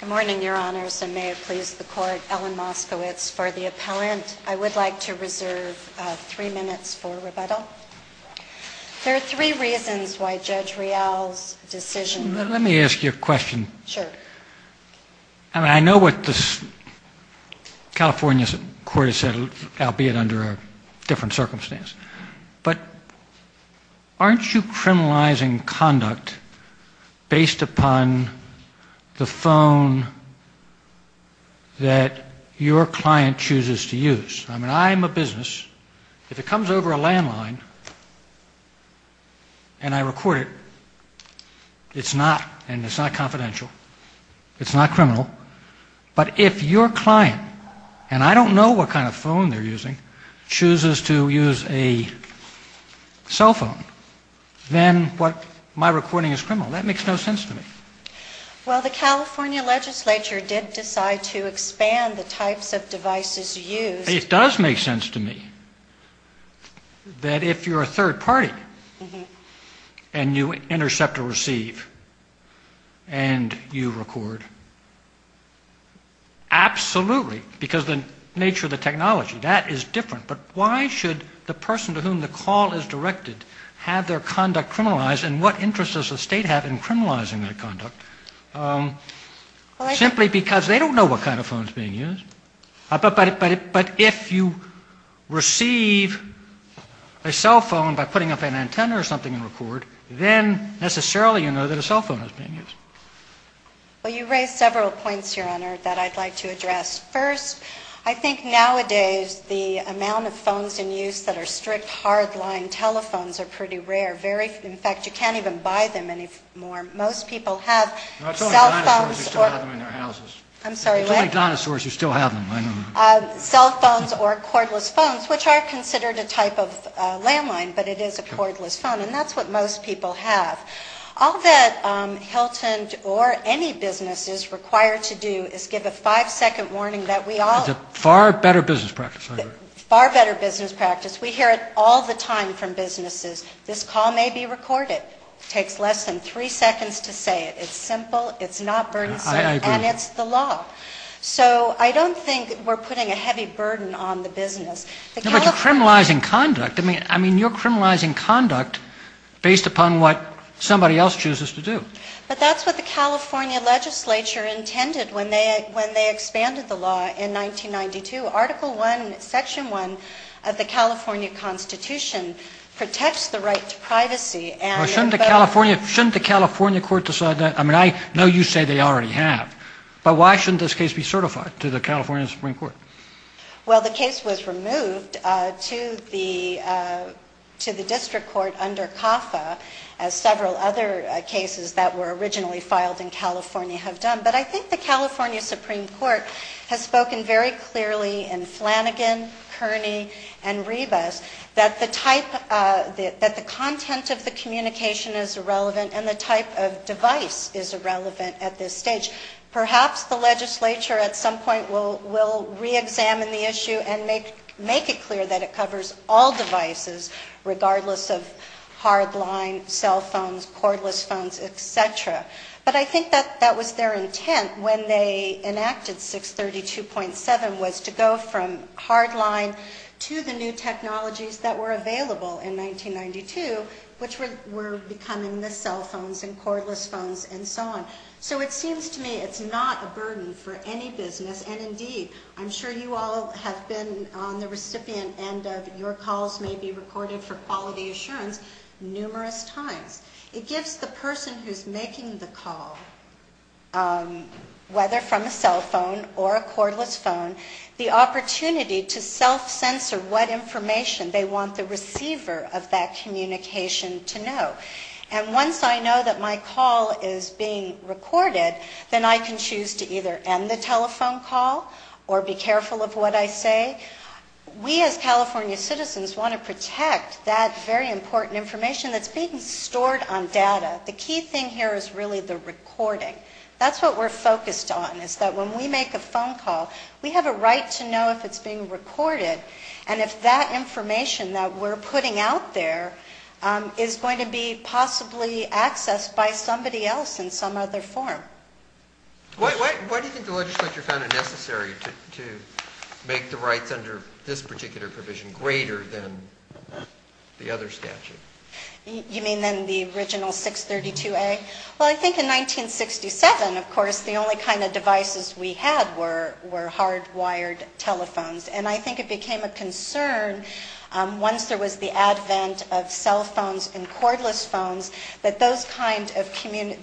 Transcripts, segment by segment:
Good morning, Your Honors, and may it please the Court, Ellen Moskowitz for the appellant. I would like to reserve three minutes for rebuttal. There are three reasons why Judge Rial's decision Let me ask you a question. Sure. I mean, I know what the California court has said, albeit under a different circumstance, but aren't you criminalizing conduct based upon the phone that your client chooses to use? I mean, I'm a business. If it comes over a landline and I record it, it's not confidential. It's not criminal. But if your client, and I don't know what kind of phone they're using, chooses to use a cell phone, then my recording is criminal. That makes no sense to me. Well, the California legislature did decide to expand the types of devices used. It does make sense to me that if you're a third party and you intercept or receive and you record, absolutely, because the nature of the technology, that is different. But why should the person to whom the call is directed have their conduct criminalized, and what interest does the State have in criminalizing their conduct? Simply because they don't know what kind of phone is being used. But if you receive a cell phone by putting up an antenna or something and record, then necessarily you know that a cell phone is being used. Well, you raise several points, Your Honor, that I'd like to address. First, I think nowadays the amount of phones in use that are strict hard-line telephones are pretty rare. In fact, you can't even buy them anymore. Most people have cell phones or cordless phones, which are considered a type of landline, but it is a cordless phone, and that's what most people have. All that Hilton or any business is required to do is give a five-second warning that we all... It's a far better business practice, I agree. Far better business practice. We hear it all the time from businesses. This call may be recorded. It takes less than three seconds to say it. It's simple. It's not burdensome. I agree. And it's the law. So I don't think we're putting a heavy burden on the business. No, but you're criminalizing conduct. I mean, you're criminalizing conduct based upon what somebody else chooses to do. But that's what the California legislature intended when they expanded the law in 1992. Article 1, Section 1 of the California Constitution protects the right to privacy and... Shouldn't the California court decide that? I mean, I know you say they already have, but why shouldn't this case be certified to the California Supreme Court? Well, the case was removed to the district court under CAFA, as several other cases that were originally filed in California have done. But I think the California Supreme Court has spoken very clearly in Flanagan, Kearney, and Ribas that the type... That the content of the communication is irrelevant, and the type of device is irrelevant at this stage. Perhaps the legislature at some point will re-examine the issue and make it clear that it covers all devices, regardless of hard line, cell phones, cordless phones, etc. But I think that was their intent when they enacted 632.7, was to go from hard line to the new technologies that were available in 1992, which were becoming the cell phones and cordless phones and so on. So it seems to me it's not a burden for any business, and indeed, I'm sure you all have been on the recipient end of your calls may be recorded for quality assurance numerous times. It gives the person who's making the call, whether from a cell phone or a cordless phone, the opportunity to self-censor what information they want the receiver of that communication to know. And once I know that my call is being recorded, then I can choose to either end the telephone call or be careful of what I say. We as California citizens want to protect that very important information that's being stored on data. The key thing here is really the recording. That's what we're focused on, is that when we make a phone call, we have a right to know if it's being recorded and if that information that we're putting out there is going to be possibly accessed by somebody else in some other form. Why do you think the legislature found it necessary to make the rights under this particular provision greater than the other statute? You mean then the original 632A? Well, I think in 1967, of course, the only kind of devices we had were hard-wired telephones. And I think it became a concern once there was the advent of cell phones and cordless phones that those kind of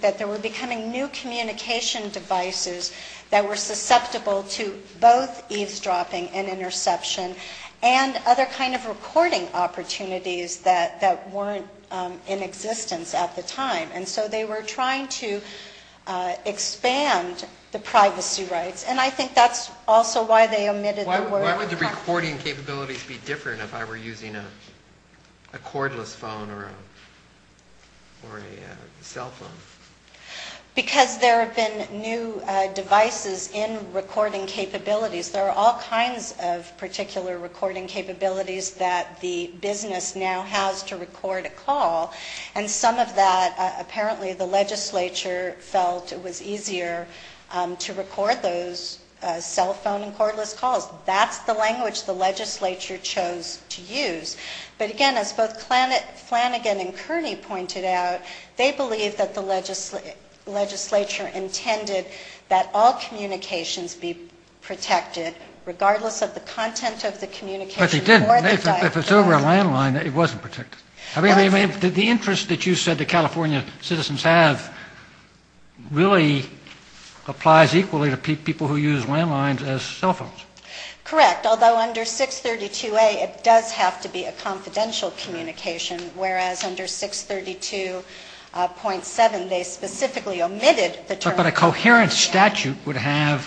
– that there were becoming new communication devices that were susceptible to both eavesdropping and interception and other kind of recording opportunities that weren't in existence at the time. And so they were trying to expand the privacy rights. And I think that's also why they omitted the word – Why would the recording capabilities be different if I were using a cordless phone or a cell phone? Because there have been new devices in recording capabilities. There are all kinds of particular recording capabilities that the business now has to record a call. And some of that, apparently, the legislature felt it was easier to record those cell phone and cordless calls. That's the language the legislature chose to use. But again, as both Flanagan and Kearney pointed out, they believe that the legislature intended that all communications be protected regardless of the content of the communication. But they didn't. If it's over a landline, it wasn't protected. I mean, the interest that you said that California citizens have really applies equally to people who use landlines as cell phones. Correct. Although under 632A, it does have to be a confidential communication, whereas under 632.7, they specifically omitted the term – But a coherent statute would have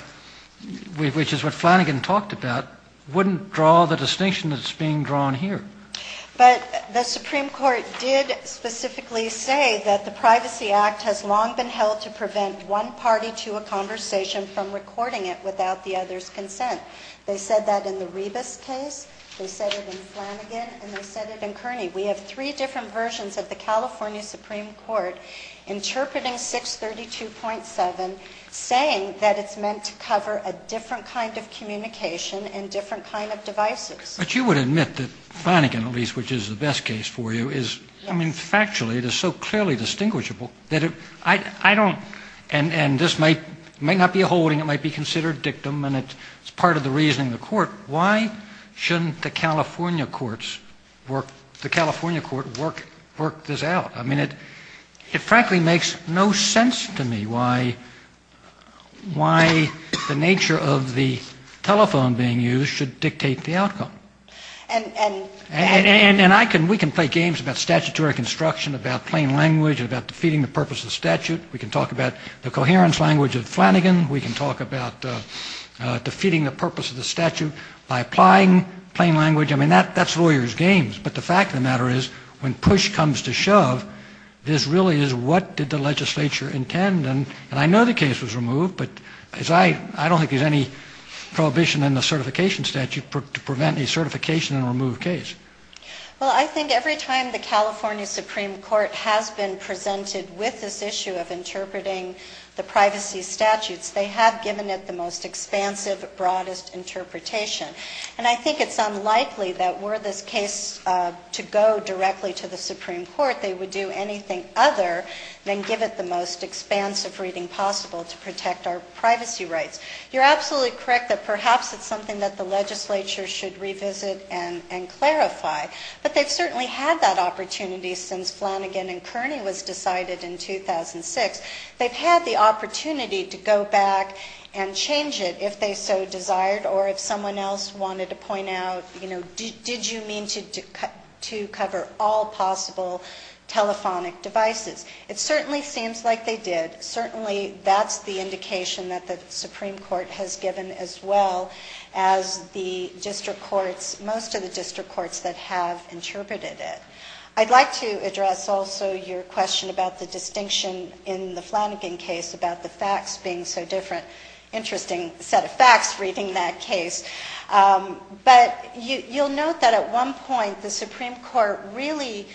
– which is what Flanagan talked about – wouldn't draw the distinction that's being drawn here. But the Supreme Court did specifically say that the Privacy Act has long been held to prevent one party to a conversation from recording it without the other's consent. They said that in the Rebus case. They said it in Flanagan. And they said it in Kearney. We have three different versions of the California Supreme Court interpreting 632.7, saying that it's meant to cover a different kind of communication and different kind of devices. But you would admit that Flanagan, at least, which is the best case for you, is – I mean, factually, it is so clearly distinguishable that I don't – and this might not be a holding. It might be considered dictum, and it's part of the reasoning of the court. Why shouldn't the California courts work – the California court work this out? I mean, it frankly makes no sense to me why the nature of the telephone being used should dictate the outcome. And I can – we can play games about statutory construction, about plain language, about defeating the purpose of the statute. We can talk about the coherence language of Flanagan. We can talk about defeating the purpose of the statute by applying plain language. I mean, that's lawyers' games. But the fact of the matter is, when push comes to shove, this really is what did the legislature intend. And I know the case was removed, but as I – I don't think there's any prohibition in the certification statute to prevent a certification in a removed case. Well, I think every time the California Supreme Court has been presented with this issue of interpreting the privacy statutes, they have given it the most expansive, broadest interpretation. And I think it's unlikely that were this case to go directly to the Supreme Court, they would do anything other than give it the most expansive reading possible to protect our privacy rights. You're absolutely correct that perhaps it's something that the legislature should revisit and clarify. But they've certainly had that opportunity since Flanagan and Kearney was decided in 2006. They've had the opportunity to go back and change it if they so desired or if someone else wanted to point out, you know, did you mean to cover all possible telephonic devices. It certainly seems like they did. Certainly that's the indication that the Supreme Court has given as well as the district courts, most of the district courts that have interpreted it. I'd like to address also your question about the distinction in the Flanagan case about the facts being so different. Interesting set of facts reading that case. But you'll note that at one point the Supreme Court really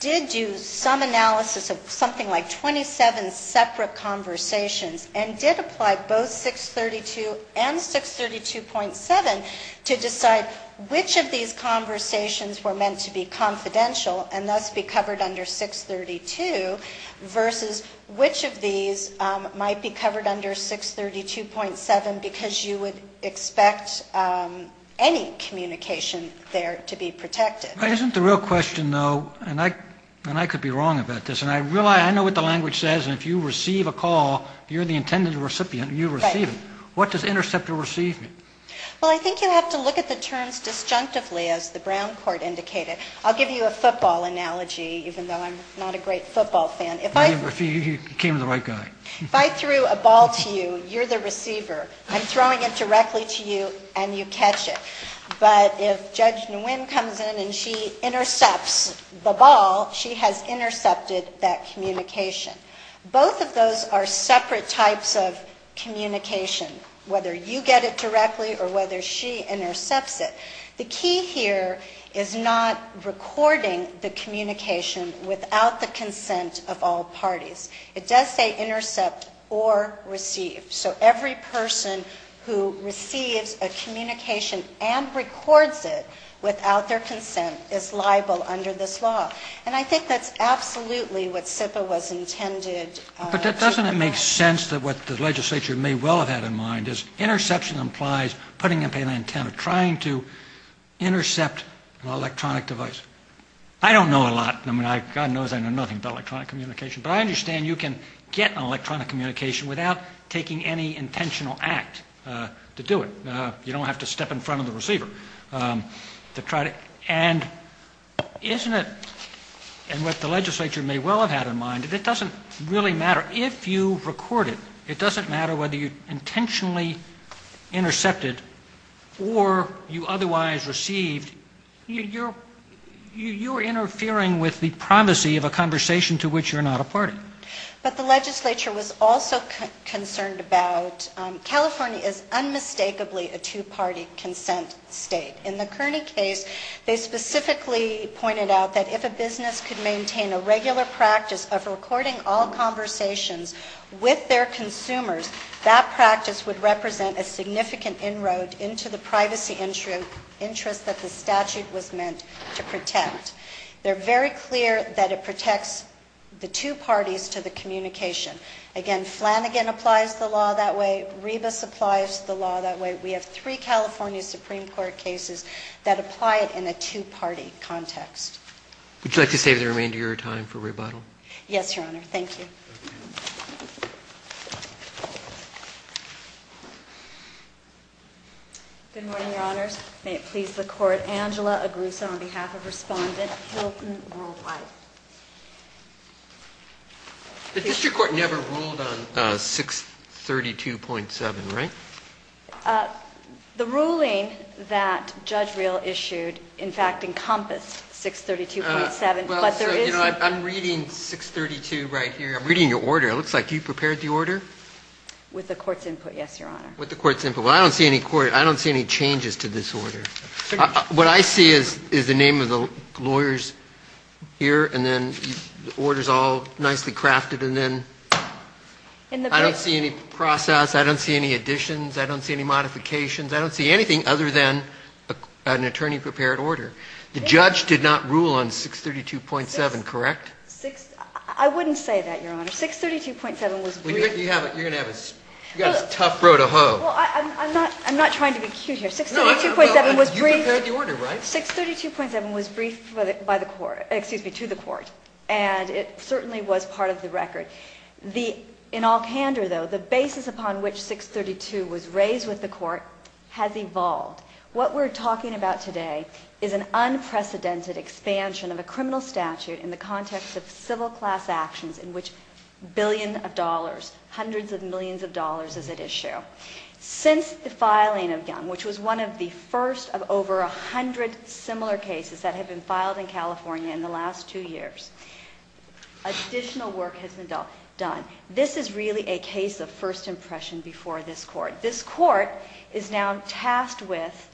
did do some analysis of something like 27 separate conversations and did apply both 632 and 632.7 to decide which of these conversations were meant to be confidential and thus be covered under 632 versus which of these might be covered under 632.7 because you would expect any communication there to be protected. Isn't the real question though, and I could be wrong about this, and I know what the language says and if you receive a call, you're the intended recipient and you receive it. What does intercept or receive mean? Well, I think you have to look at the terms disjunctively as the Brown Court indicated. I'll give you a football analogy even though I'm not a great football fan. If I threw a ball to you, you're the receiver. I'm throwing it directly to you and you catch it. But if Judge Nguyen comes in and she intercepts the ball, she has intercepted that communication. Both of those are separate types of communication, whether you get it directly or whether she intercepts it. The key here is not recording the communication without the consent of all parties. It does say intercept or receive. So every person who receives a communication and records it without their consent is liable under this law. And I think that's absolutely what SIPA was intended to provide. But doesn't it make sense that what the legislature may well have had in mind is interception implies putting up an antenna, trying to intercept an electronic device. I don't know a lot. I mean, God knows I know nothing about electronic communication. But I understand you can get electronic communication without taking any intentional act to do it. You don't have to step in front of the receiver to try to. And isn't it, and what the legislature may well have had in mind, that it doesn't really matter if you record it. It doesn't matter whether you intentionally intercepted or you otherwise received. You're interfering with the privacy of a conversation to which you're not a party. But the legislature was also concerned about California is unmistakably a two-party consent state. In the Kearney case, they specifically pointed out that if a business could maintain a regular practice of recording all conversations with their consumers, that practice would represent a significant inroad into the privacy interest that the statute was meant to protect. They're very clear that it protects the two parties to the communication. Again, Flanagan applies the law that way. Rebus applies the law that way. We have three California Supreme Court cases that apply it in a two-party context. Would you like to save the remainder of your time for rebuttal? Yes, Your Honor. Thank you. Good morning, Your Honors. May it please the Court, Angela Agrusa on behalf of Respondent Hilton Rule-White. The district court never ruled on 632.7, right? The ruling that Judge Real issued, in fact, encompassed 632.7, but there is... Well, so, you know, I'm reading 632 right here. I'm reading your order. It looks like you prepared the order. With the Court's input, yes, Your Honor. With the Court's input. Well, I don't see any changes to this order. What I see is the name of the lawyers here, and then the order's all nicely crafted, and then I don't see any process. I don't see any additions. I don't see any modifications. I don't see anything other than an attorney-prepared order. The judge did not rule on 632.7, correct? I wouldn't say that, Your Honor. 632.7 was briefed. You're going to have a tough row to hoe. Well, I'm not trying to be cute here. 632.7 was briefed. You prepared the order, right? 632.7 was briefed by the Court, excuse me, to the Court, and it certainly was part of the record. In all candor, though, the basis upon which 632 was raised with the Court has evolved. What we're talking about today is an unprecedented expansion of a criminal statute in the context of civil class actions in which billions of dollars, hundreds of millions of dollars is at issue. Since the filing of Young, which was one of the first of over 100 similar cases that have been filed in California in the last two years, additional work has been done. This is really a case of first impression before this Court. This Court is now tasked with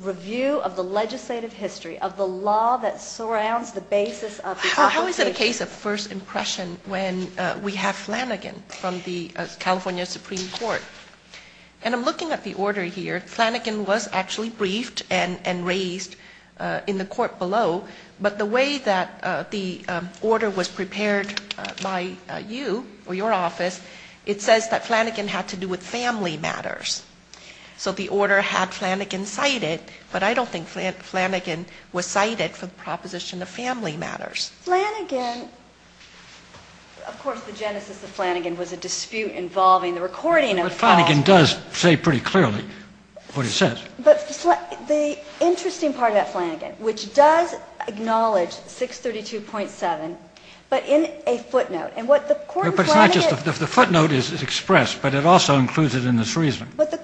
review of the legislative history of the law that surrounds the basis of the statute. How is it a case of first impression when we have Flanagan from the California Supreme Court? And I'm looking at the order here. Flanagan was actually briefed and raised in the Court below. But the way that the order was prepared by you or your office, it says that Flanagan had to do with family matters. So the order had Flanagan cited, but I don't think Flanagan was cited for the proposition of family matters. Flanagan, of course, the genesis of Flanagan was a dispute involving the recording of- But Flanagan does say pretty clearly what he says. But the interesting part about Flanagan, which does acknowledge 632.7, but in a footnote. And what the Court in Flanagan- But it's not just the footnote is expressed, but it also includes it in its reasoning. What the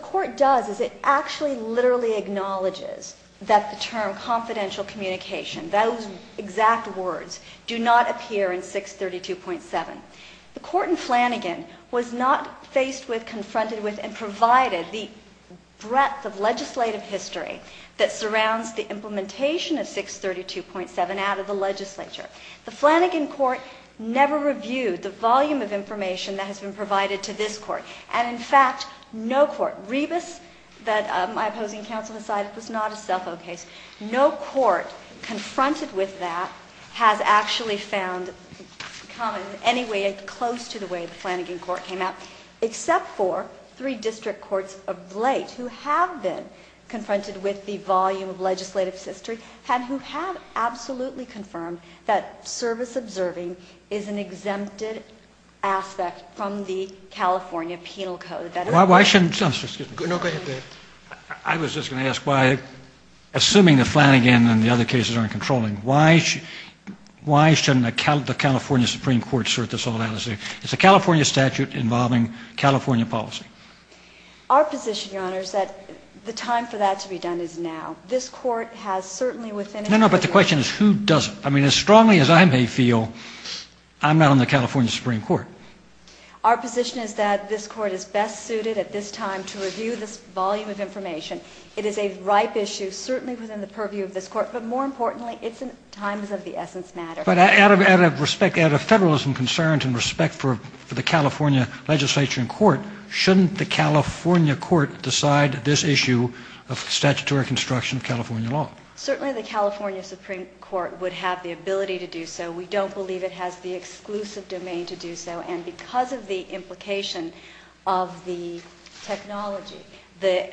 Court does is it actually literally acknowledges that the term confidential communication, those exact words, do not appear in 632.7. The Court in Flanagan was not faced with, confronted with, and provided the breadth of legislative history that surrounds the implementation of 632.7 out of the legislature. The Flanagan Court never reviewed the volume of information that has been provided to this Court. And in fact, no court, Rebus, that my opposing counsel has cited, was not a self-owned case. No court confronted with that has actually found common in any way close to the way the Flanagan Court came out, except for three district courts of late who have been confronted with the volume of legislative history and who have absolutely confirmed that service observing is an exempted aspect from the California Penal Code. Why shouldn't- No, go ahead. I was just going to ask why, assuming that Flanagan and the other cases aren't controlling, why shouldn't the California Supreme Court sort this all out? It's a California statute involving California policy. Our position, Your Honor, is that the time for that to be done is now. This Court has certainly within- No, no, but the question is who doesn't? I mean, as strongly as I may feel, I'm not on the California Supreme Court. Our position is that this Court is best suited at this time to review this volume of information. It is a ripe issue, certainly within the purview of this Court, but more importantly, it's in times of the essence matter. But out of respect, out of federalism concerns and respect for the California legislature and court, shouldn't the California court decide this issue of statutory construction of California law? Certainly the California Supreme Court would have the ability to do so. We don't believe it has the exclusive domain to do so. And because of the implication of the technology, the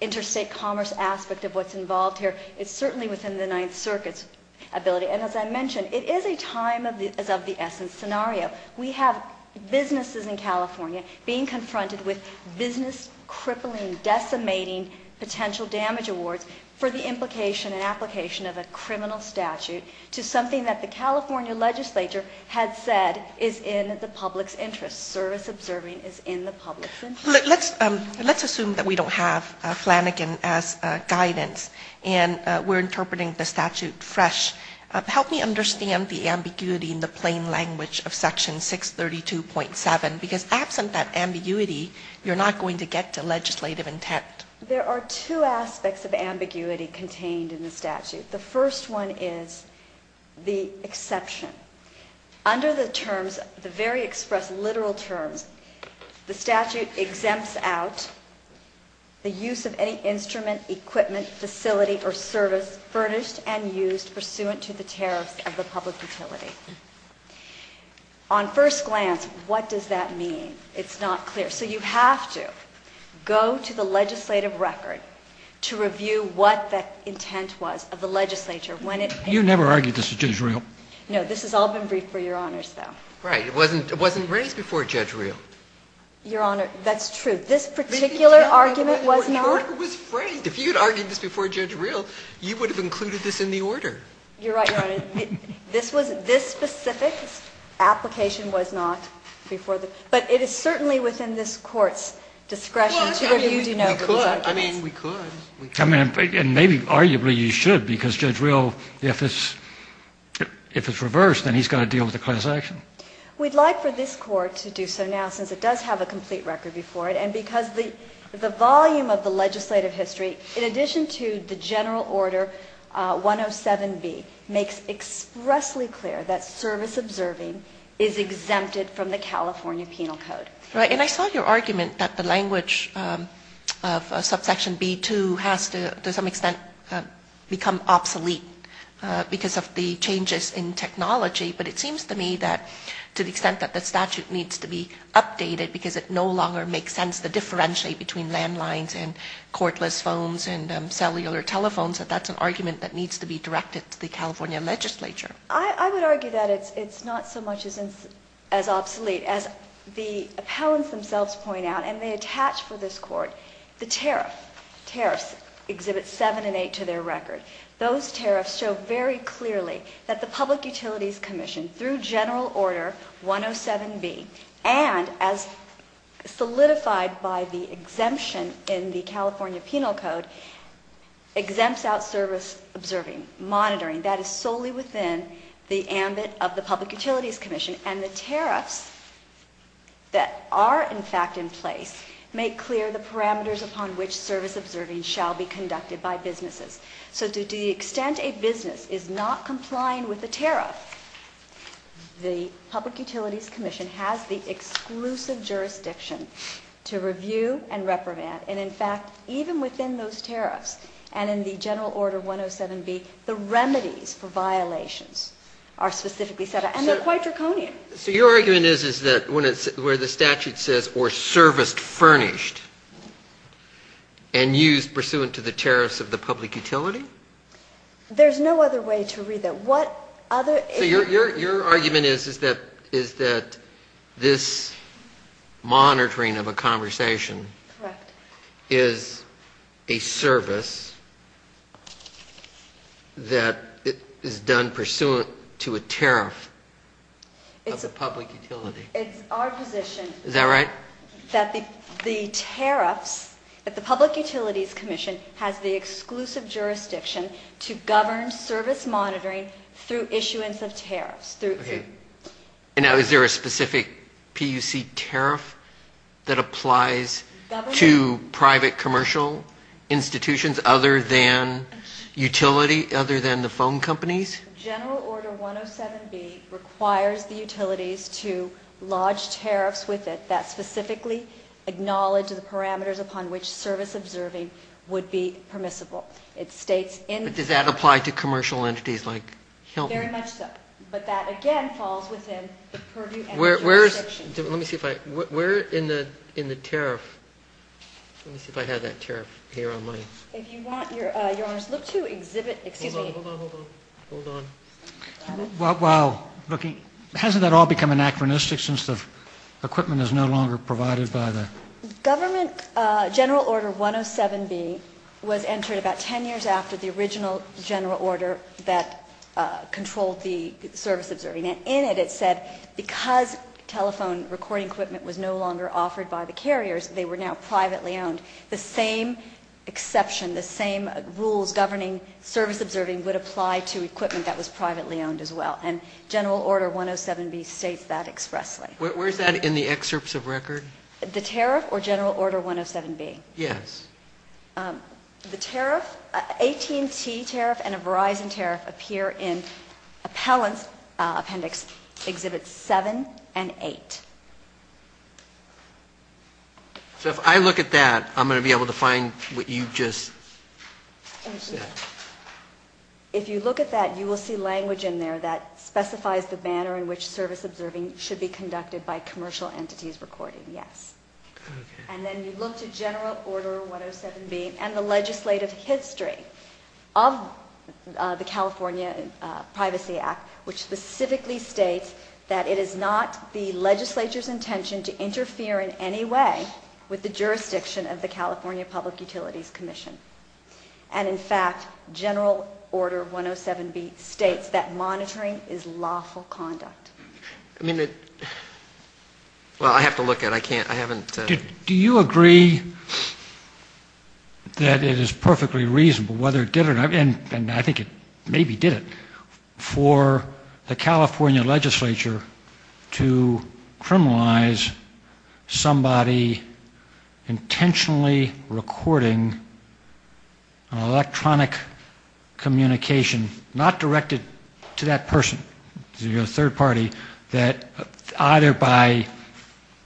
interstate commerce aspect of what's involved here, it's certainly within the Ninth Circuit's ability. And as I mentioned, it is a time of the essence scenario. We have businesses in California being confronted with business crippling, decimating potential damage awards for the implication and application of a criminal statute to something that the California legislature had said is in the public's interest. Service observing is in the public's interest. Let's assume that we don't have Flanagan as guidance and we're interpreting the statute fresh. Help me understand the ambiguity in the plain language of Section 632.7, because absent that ambiguity, you're not going to get to legislative intent. There are two aspects of ambiguity contained in the statute. The first one is the exception. Under the terms, the very expressed literal terms, the statute exempts out the use of any instrument, equipment, facility, or service furnished and used pursuant to the tariffs of the public utility. On first glance, what does that mean? It's not clear. So you have to go to the legislative record to review what that intent was of the legislature when it came. You never argued this with Judge Reel. No. This has all been briefed for Your Honors, though. Right. It wasn't raised before Judge Reel. Your Honor, that's true. This particular argument was not. The order was phrased. If you had argued this before Judge Reel, you would have included this in the order. You're right, Your Honor. This specific application was not before the – but it is certainly within this Court's discretion to review these arguments. Well, I mean, we could. I mean, we could. I mean, and maybe arguably you should, because Judge Reel, if it's reversed, then he's got to deal with the class action. We'd like for this Court to do so now, since it does have a complete record before it. And because the volume of the legislative history, in addition to the general order 107B, makes expressly clear that service observing is exempted from the California Penal Code. Right. And I saw your argument that the language of subsection B2 has to some extent become obsolete because of the changes in technology. But it seems to me that to the extent that the statute needs to be updated, because it no longer makes sense to differentiate between landlines and cordless phones and cellular telephones, that that's an argument that needs to be directed to the California legislature. I would argue that it's not so much as obsolete. As the appellants themselves point out, and they attach for this Court, the tariff, tariffs exhibit 7 and 8 to their record. Those tariffs show very clearly that the Public Utilities Commission, through general order 107B, and as solidified by the exemption in the California Penal Code, exempts out service observing, monitoring. That is solely within the ambit of the Public Utilities Commission. And the tariffs that are, in fact, in place, make clear the parameters upon which service observing shall be conducted by businesses. So to the extent a business is not complying with the tariff, the Public Utilities Commission has the exclusive jurisdiction to review and reprimand. And, in fact, even within those tariffs and in the general order 107B, the remedies for violations are specifically set out. And they're quite draconian. So your argument is that where the statute says, or serviced furnished and used pursuant to the tariffs of the public utility? There's no other way to read that. So your argument is that this monitoring of a conversation is a service that is done pursuant to a tariff. It's a public utility. It's our position. Is that right? That the tariffs, that the Public Utilities Commission has the exclusive jurisdiction to govern service monitoring through issuance of tariffs. Okay. And now is there a specific PUC tariff that applies to private commercial institutions other than utility, other than the phone companies? General order 107B requires the utilities to lodge tariffs with it that specifically acknowledge the parameters upon which service observing would be permissible. It states in- But does that apply to commercial entities like Hilton? Very much so. But that, again, falls within the purview and jurisdiction. Let me see if I – where in the tariff – let me see if I have that tariff here on my – If you want, Your Honors, look to exhibit – excuse me. Hold on, hold on, hold on. While looking – hasn't that all become anachronistic since the equipment is no longer provided by the – Government general order 107B was entered about 10 years after the original general order that controlled the service observing. And in it, it said because telephone recording equipment was no longer offered by the carriers, they were now privately owned. The same exception, the same rules governing service observing would apply to equipment that was privately owned as well. And general order 107B states that expressly. Where is that in the excerpts of record? The tariff or general order 107B? Yes. The tariff – AT&T tariff and a Verizon tariff appear in appellant appendix exhibits 7 and 8. So if I look at that, I'm going to be able to find what you just said. If you look at that, you will see language in there that specifies the manner in which service observing should be conducted by commercial entities recording. Yes. And then you look to general order 107B and the legislative history of the California Privacy Act, which specifically states that it is not the legislature's intention to interfere in any way with the jurisdiction of the California Public Utilities Commission. And, in fact, general order 107B states that monitoring is lawful conduct. I mean, it – well, I have to look at it. I can't – I haven't – Do you agree that it is perfectly reasonable, whether it did or not, and I think it maybe did it, for the California legislature to criminalize somebody intentionally recording electronic communication, not directed to that person, to the third party, that either by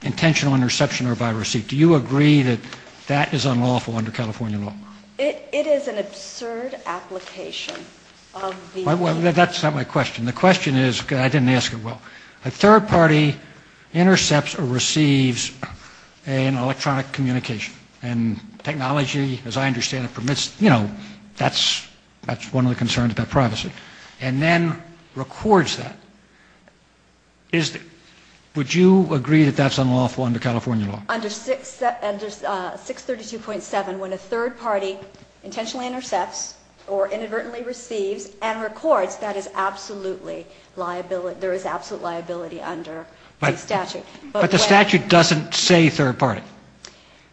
intentional interception or by receipt. Do you agree that that is unlawful under California law? It is an absurd application of the – Well, that's not my question. The question is – I didn't ask it well. A third party intercepts or receives an electronic communication. And technology, as I understand it, permits – you know, that's one of the concerns about privacy. And then records that. Would you agree that that's unlawful under California law? Under 632.7, when a third party intentionally intercepts or inadvertently receives and records, that is absolutely – there is absolute liability under the statute. But the statute doesn't say third party.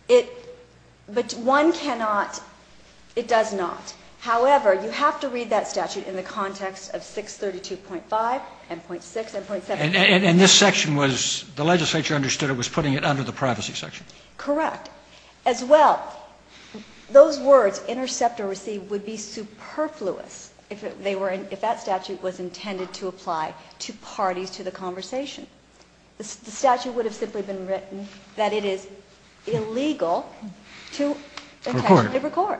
It – but one cannot – it does not. However, you have to read that statute in the context of 632.5 and .6 and .7. And this section was – the legislature understood it was putting it under the privacy section. Correct. As well, those words, intercept or receive, would be superfluous if that statute was intended to apply to parties to the conversation. The statute would have simply been written that it is illegal to intentionally record.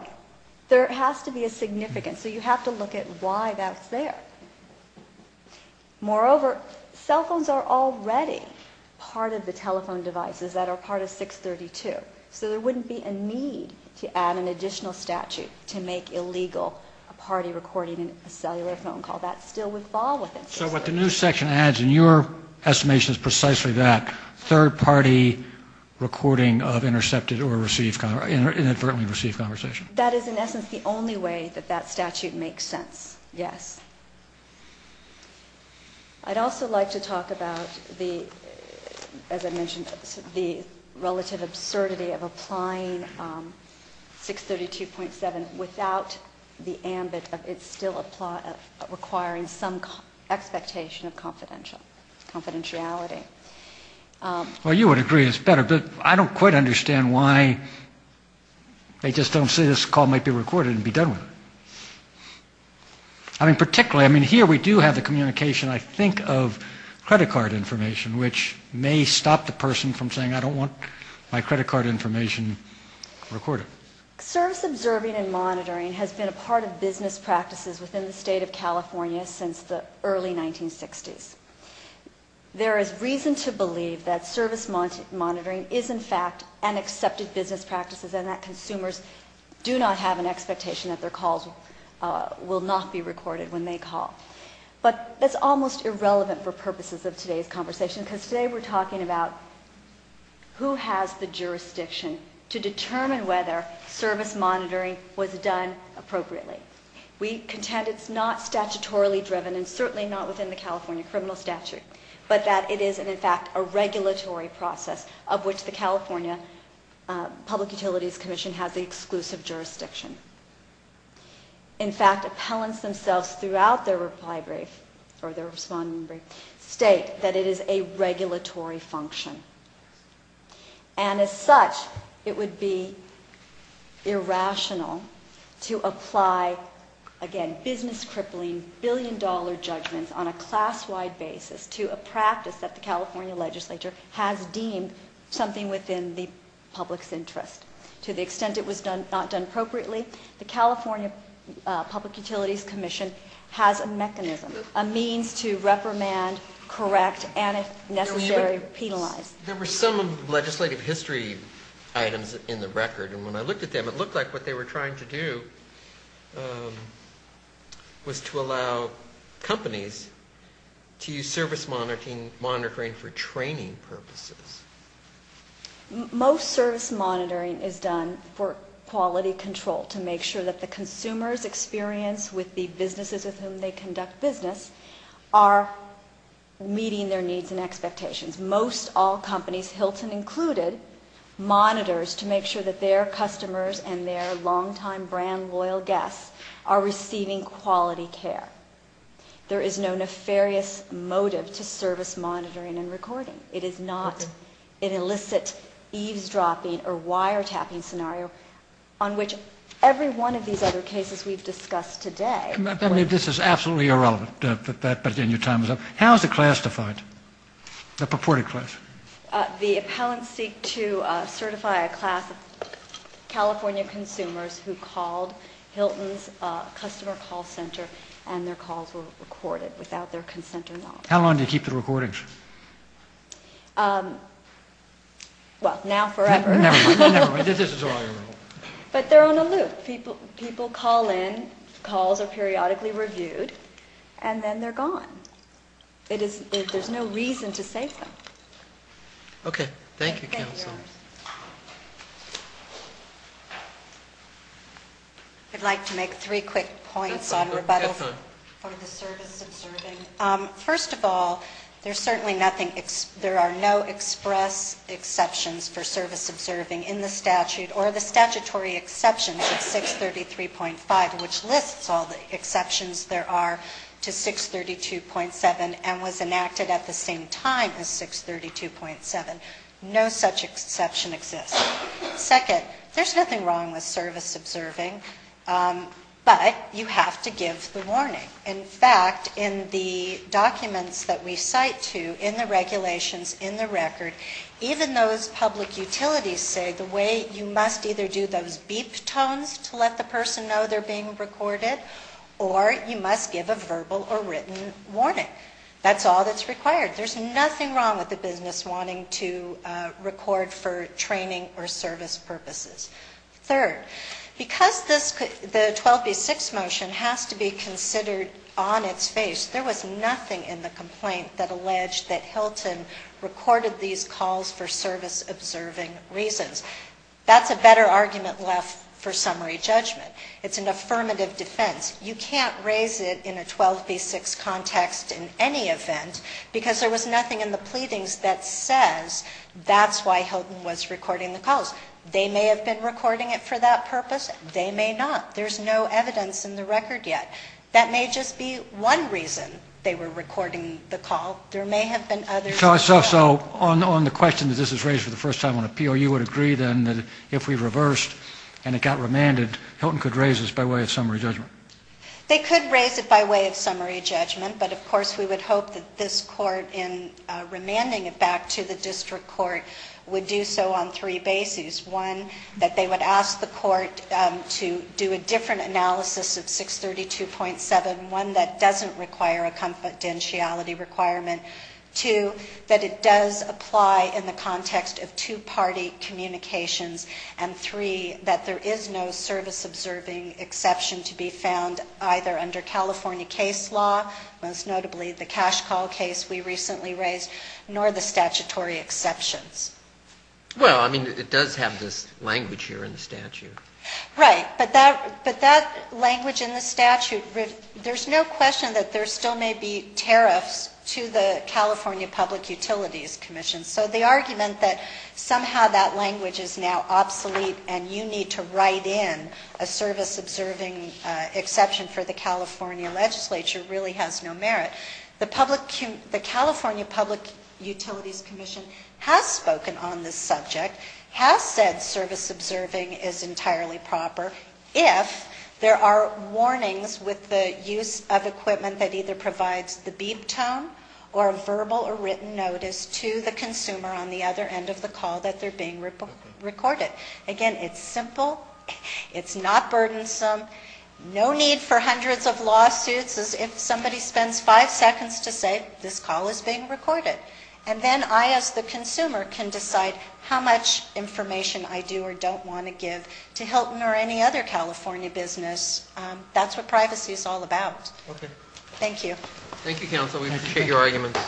There has to be a significance. So you have to look at why that's there. Moreover, cell phones are already part of the telephone devices that are part of 632. So there wouldn't be a need to add an additional statute to make illegal a party recording a cellular phone call. That still would fall within 632. This section adds, and your estimation is precisely that, third party recording of intercepted or received – inadvertently received conversation. That is, in essence, the only way that that statute makes sense, yes. I'd also like to talk about the – as I mentioned, the relative absurdity of applying 632.7 without the ambit of it still requiring some expectation of confidentiality. Well, you would agree it's better, but I don't quite understand why they just don't say this call might be recorded and be done with. I mean, particularly – I mean, here we do have the communication, I think, of credit card information, which may stop the person from saying, I don't want my credit card information recorded. Service observing and monitoring has been a part of business practices within the state of California since the early 1960s. There is reason to believe that service monitoring is, in fact, an accepted business practice and that consumers do not have an expectation that their calls will not be recorded when they call. But that's almost irrelevant for purposes of today's conversation, because today we're talking about who has the jurisdiction to determine whether service monitoring was done appropriately. We contend it's not statutorily driven and certainly not within the California criminal statute, but that it is, in fact, a regulatory process of which the California Public Utilities Commission has the exclusive jurisdiction. In fact, appellants themselves throughout their reply brief or their responding brief state that it is a regulatory function. And as such, it would be irrational to apply, again, business-crippling, billion-dollar judgments on a class-wide basis to a practice that the California legislature has deemed something within the public's interest. To the extent it was not done appropriately, the California Public Utilities Commission has a mechanism, a means to reprimand, correct, and if necessary, penalize. There were some legislative history items in the record, and when I looked at them, it looked like what they were trying to do was to allow companies to use service monitoring for training purposes. Most service monitoring is done for quality control, to make sure that the consumers' experience with the businesses with whom they conduct business are meeting their needs and expectations. Most all companies, Hilton included, monitors to make sure that their customers and their longtime brand loyal guests are receiving quality care. There is no nefarious motive to service monitoring and recording. It is not an illicit eavesdropping or wiretapping scenario on which every one of these other cases we've discussed today. I mean, this is absolutely irrelevant, but then your time is up. How is the class defined, the purported class? The appellants seek to certify a class of California consumers who called Hilton's customer call center and their calls were recorded without their consent or knowledge. How long do you keep the recordings? Well, now forever. But they're on a loop. People call in, calls are periodically reviewed, and then they're gone. There's no reason to save them. Okay. Thank you, counsel. I'd like to make three quick points on rebuttals for the service observing. First of all, there are no express exceptions for service observing in the statute or the statutory exceptions of 633.5, which lists all the exceptions there are to 632.7 and was enacted at the same time as 632.7. No such exception exists. Second, there's nothing wrong with service observing, but you have to give the warning. In fact, in the documents that we cite to, in the regulations, in the record, even those public utilities say the way you must either do those beep tones to let the person know they're being recorded or you must give a verbal or written warning. That's all that's required. There's nothing wrong with the business wanting to record for training or service purposes. Third, because the 12B6 motion has to be considered on its face, there was nothing in the complaint that alleged that Hilton recorded these calls for service observing reasons. That's a better argument left for summary judgment. It's an affirmative defense. You can't raise it in a 12B6 context in any event because there was nothing in the pleadings that says that's why Hilton was recording the calls. They may have been recording it for that purpose. They may not. There's no evidence in the record yet. That may just be one reason they were recording the call. There may have been others. So on the question that this was raised for the first time on appeal, you would agree then that if we reversed and it got remanded, Hilton could raise this by way of summary judgment? They could raise it by way of summary judgment, but of course we would hope that this court in remanding it back to the district court would do so on three bases. One, that they would ask the court to do a different analysis of 632.7, one that doesn't require a confidentiality requirement. Two, that it does apply in the context of two-party communications. And three, that there is no service-observing exception to be found either under California case law, most notably the cash call case we recently raised, nor the statutory exceptions. Well, I mean, it does have this language here in the statute. Right. But that language in the statute, there's no question that there still may be tariffs to the California Public Utilities Commission. So the argument that somehow that language is now obsolete and you need to write in a service-observing exception for the California legislature really has no merit. The California Public Utilities Commission has spoken on this subject, has said service-observing is entirely proper if there are warnings with the use of equipment that either provides the beep tone or a verbal or written notice to the consumer on the other end of the call that they're being recorded. Again, it's simple. It's not burdensome. No need for hundreds of lawsuits as if somebody spends five seconds to say this call is being recorded. And then I, as the consumer, can decide how much information I do or don't want to give to Hilton or any other California business. That's what privacy is all about. Okay. Thank you. Thank you, counsel. We appreciate your arguments.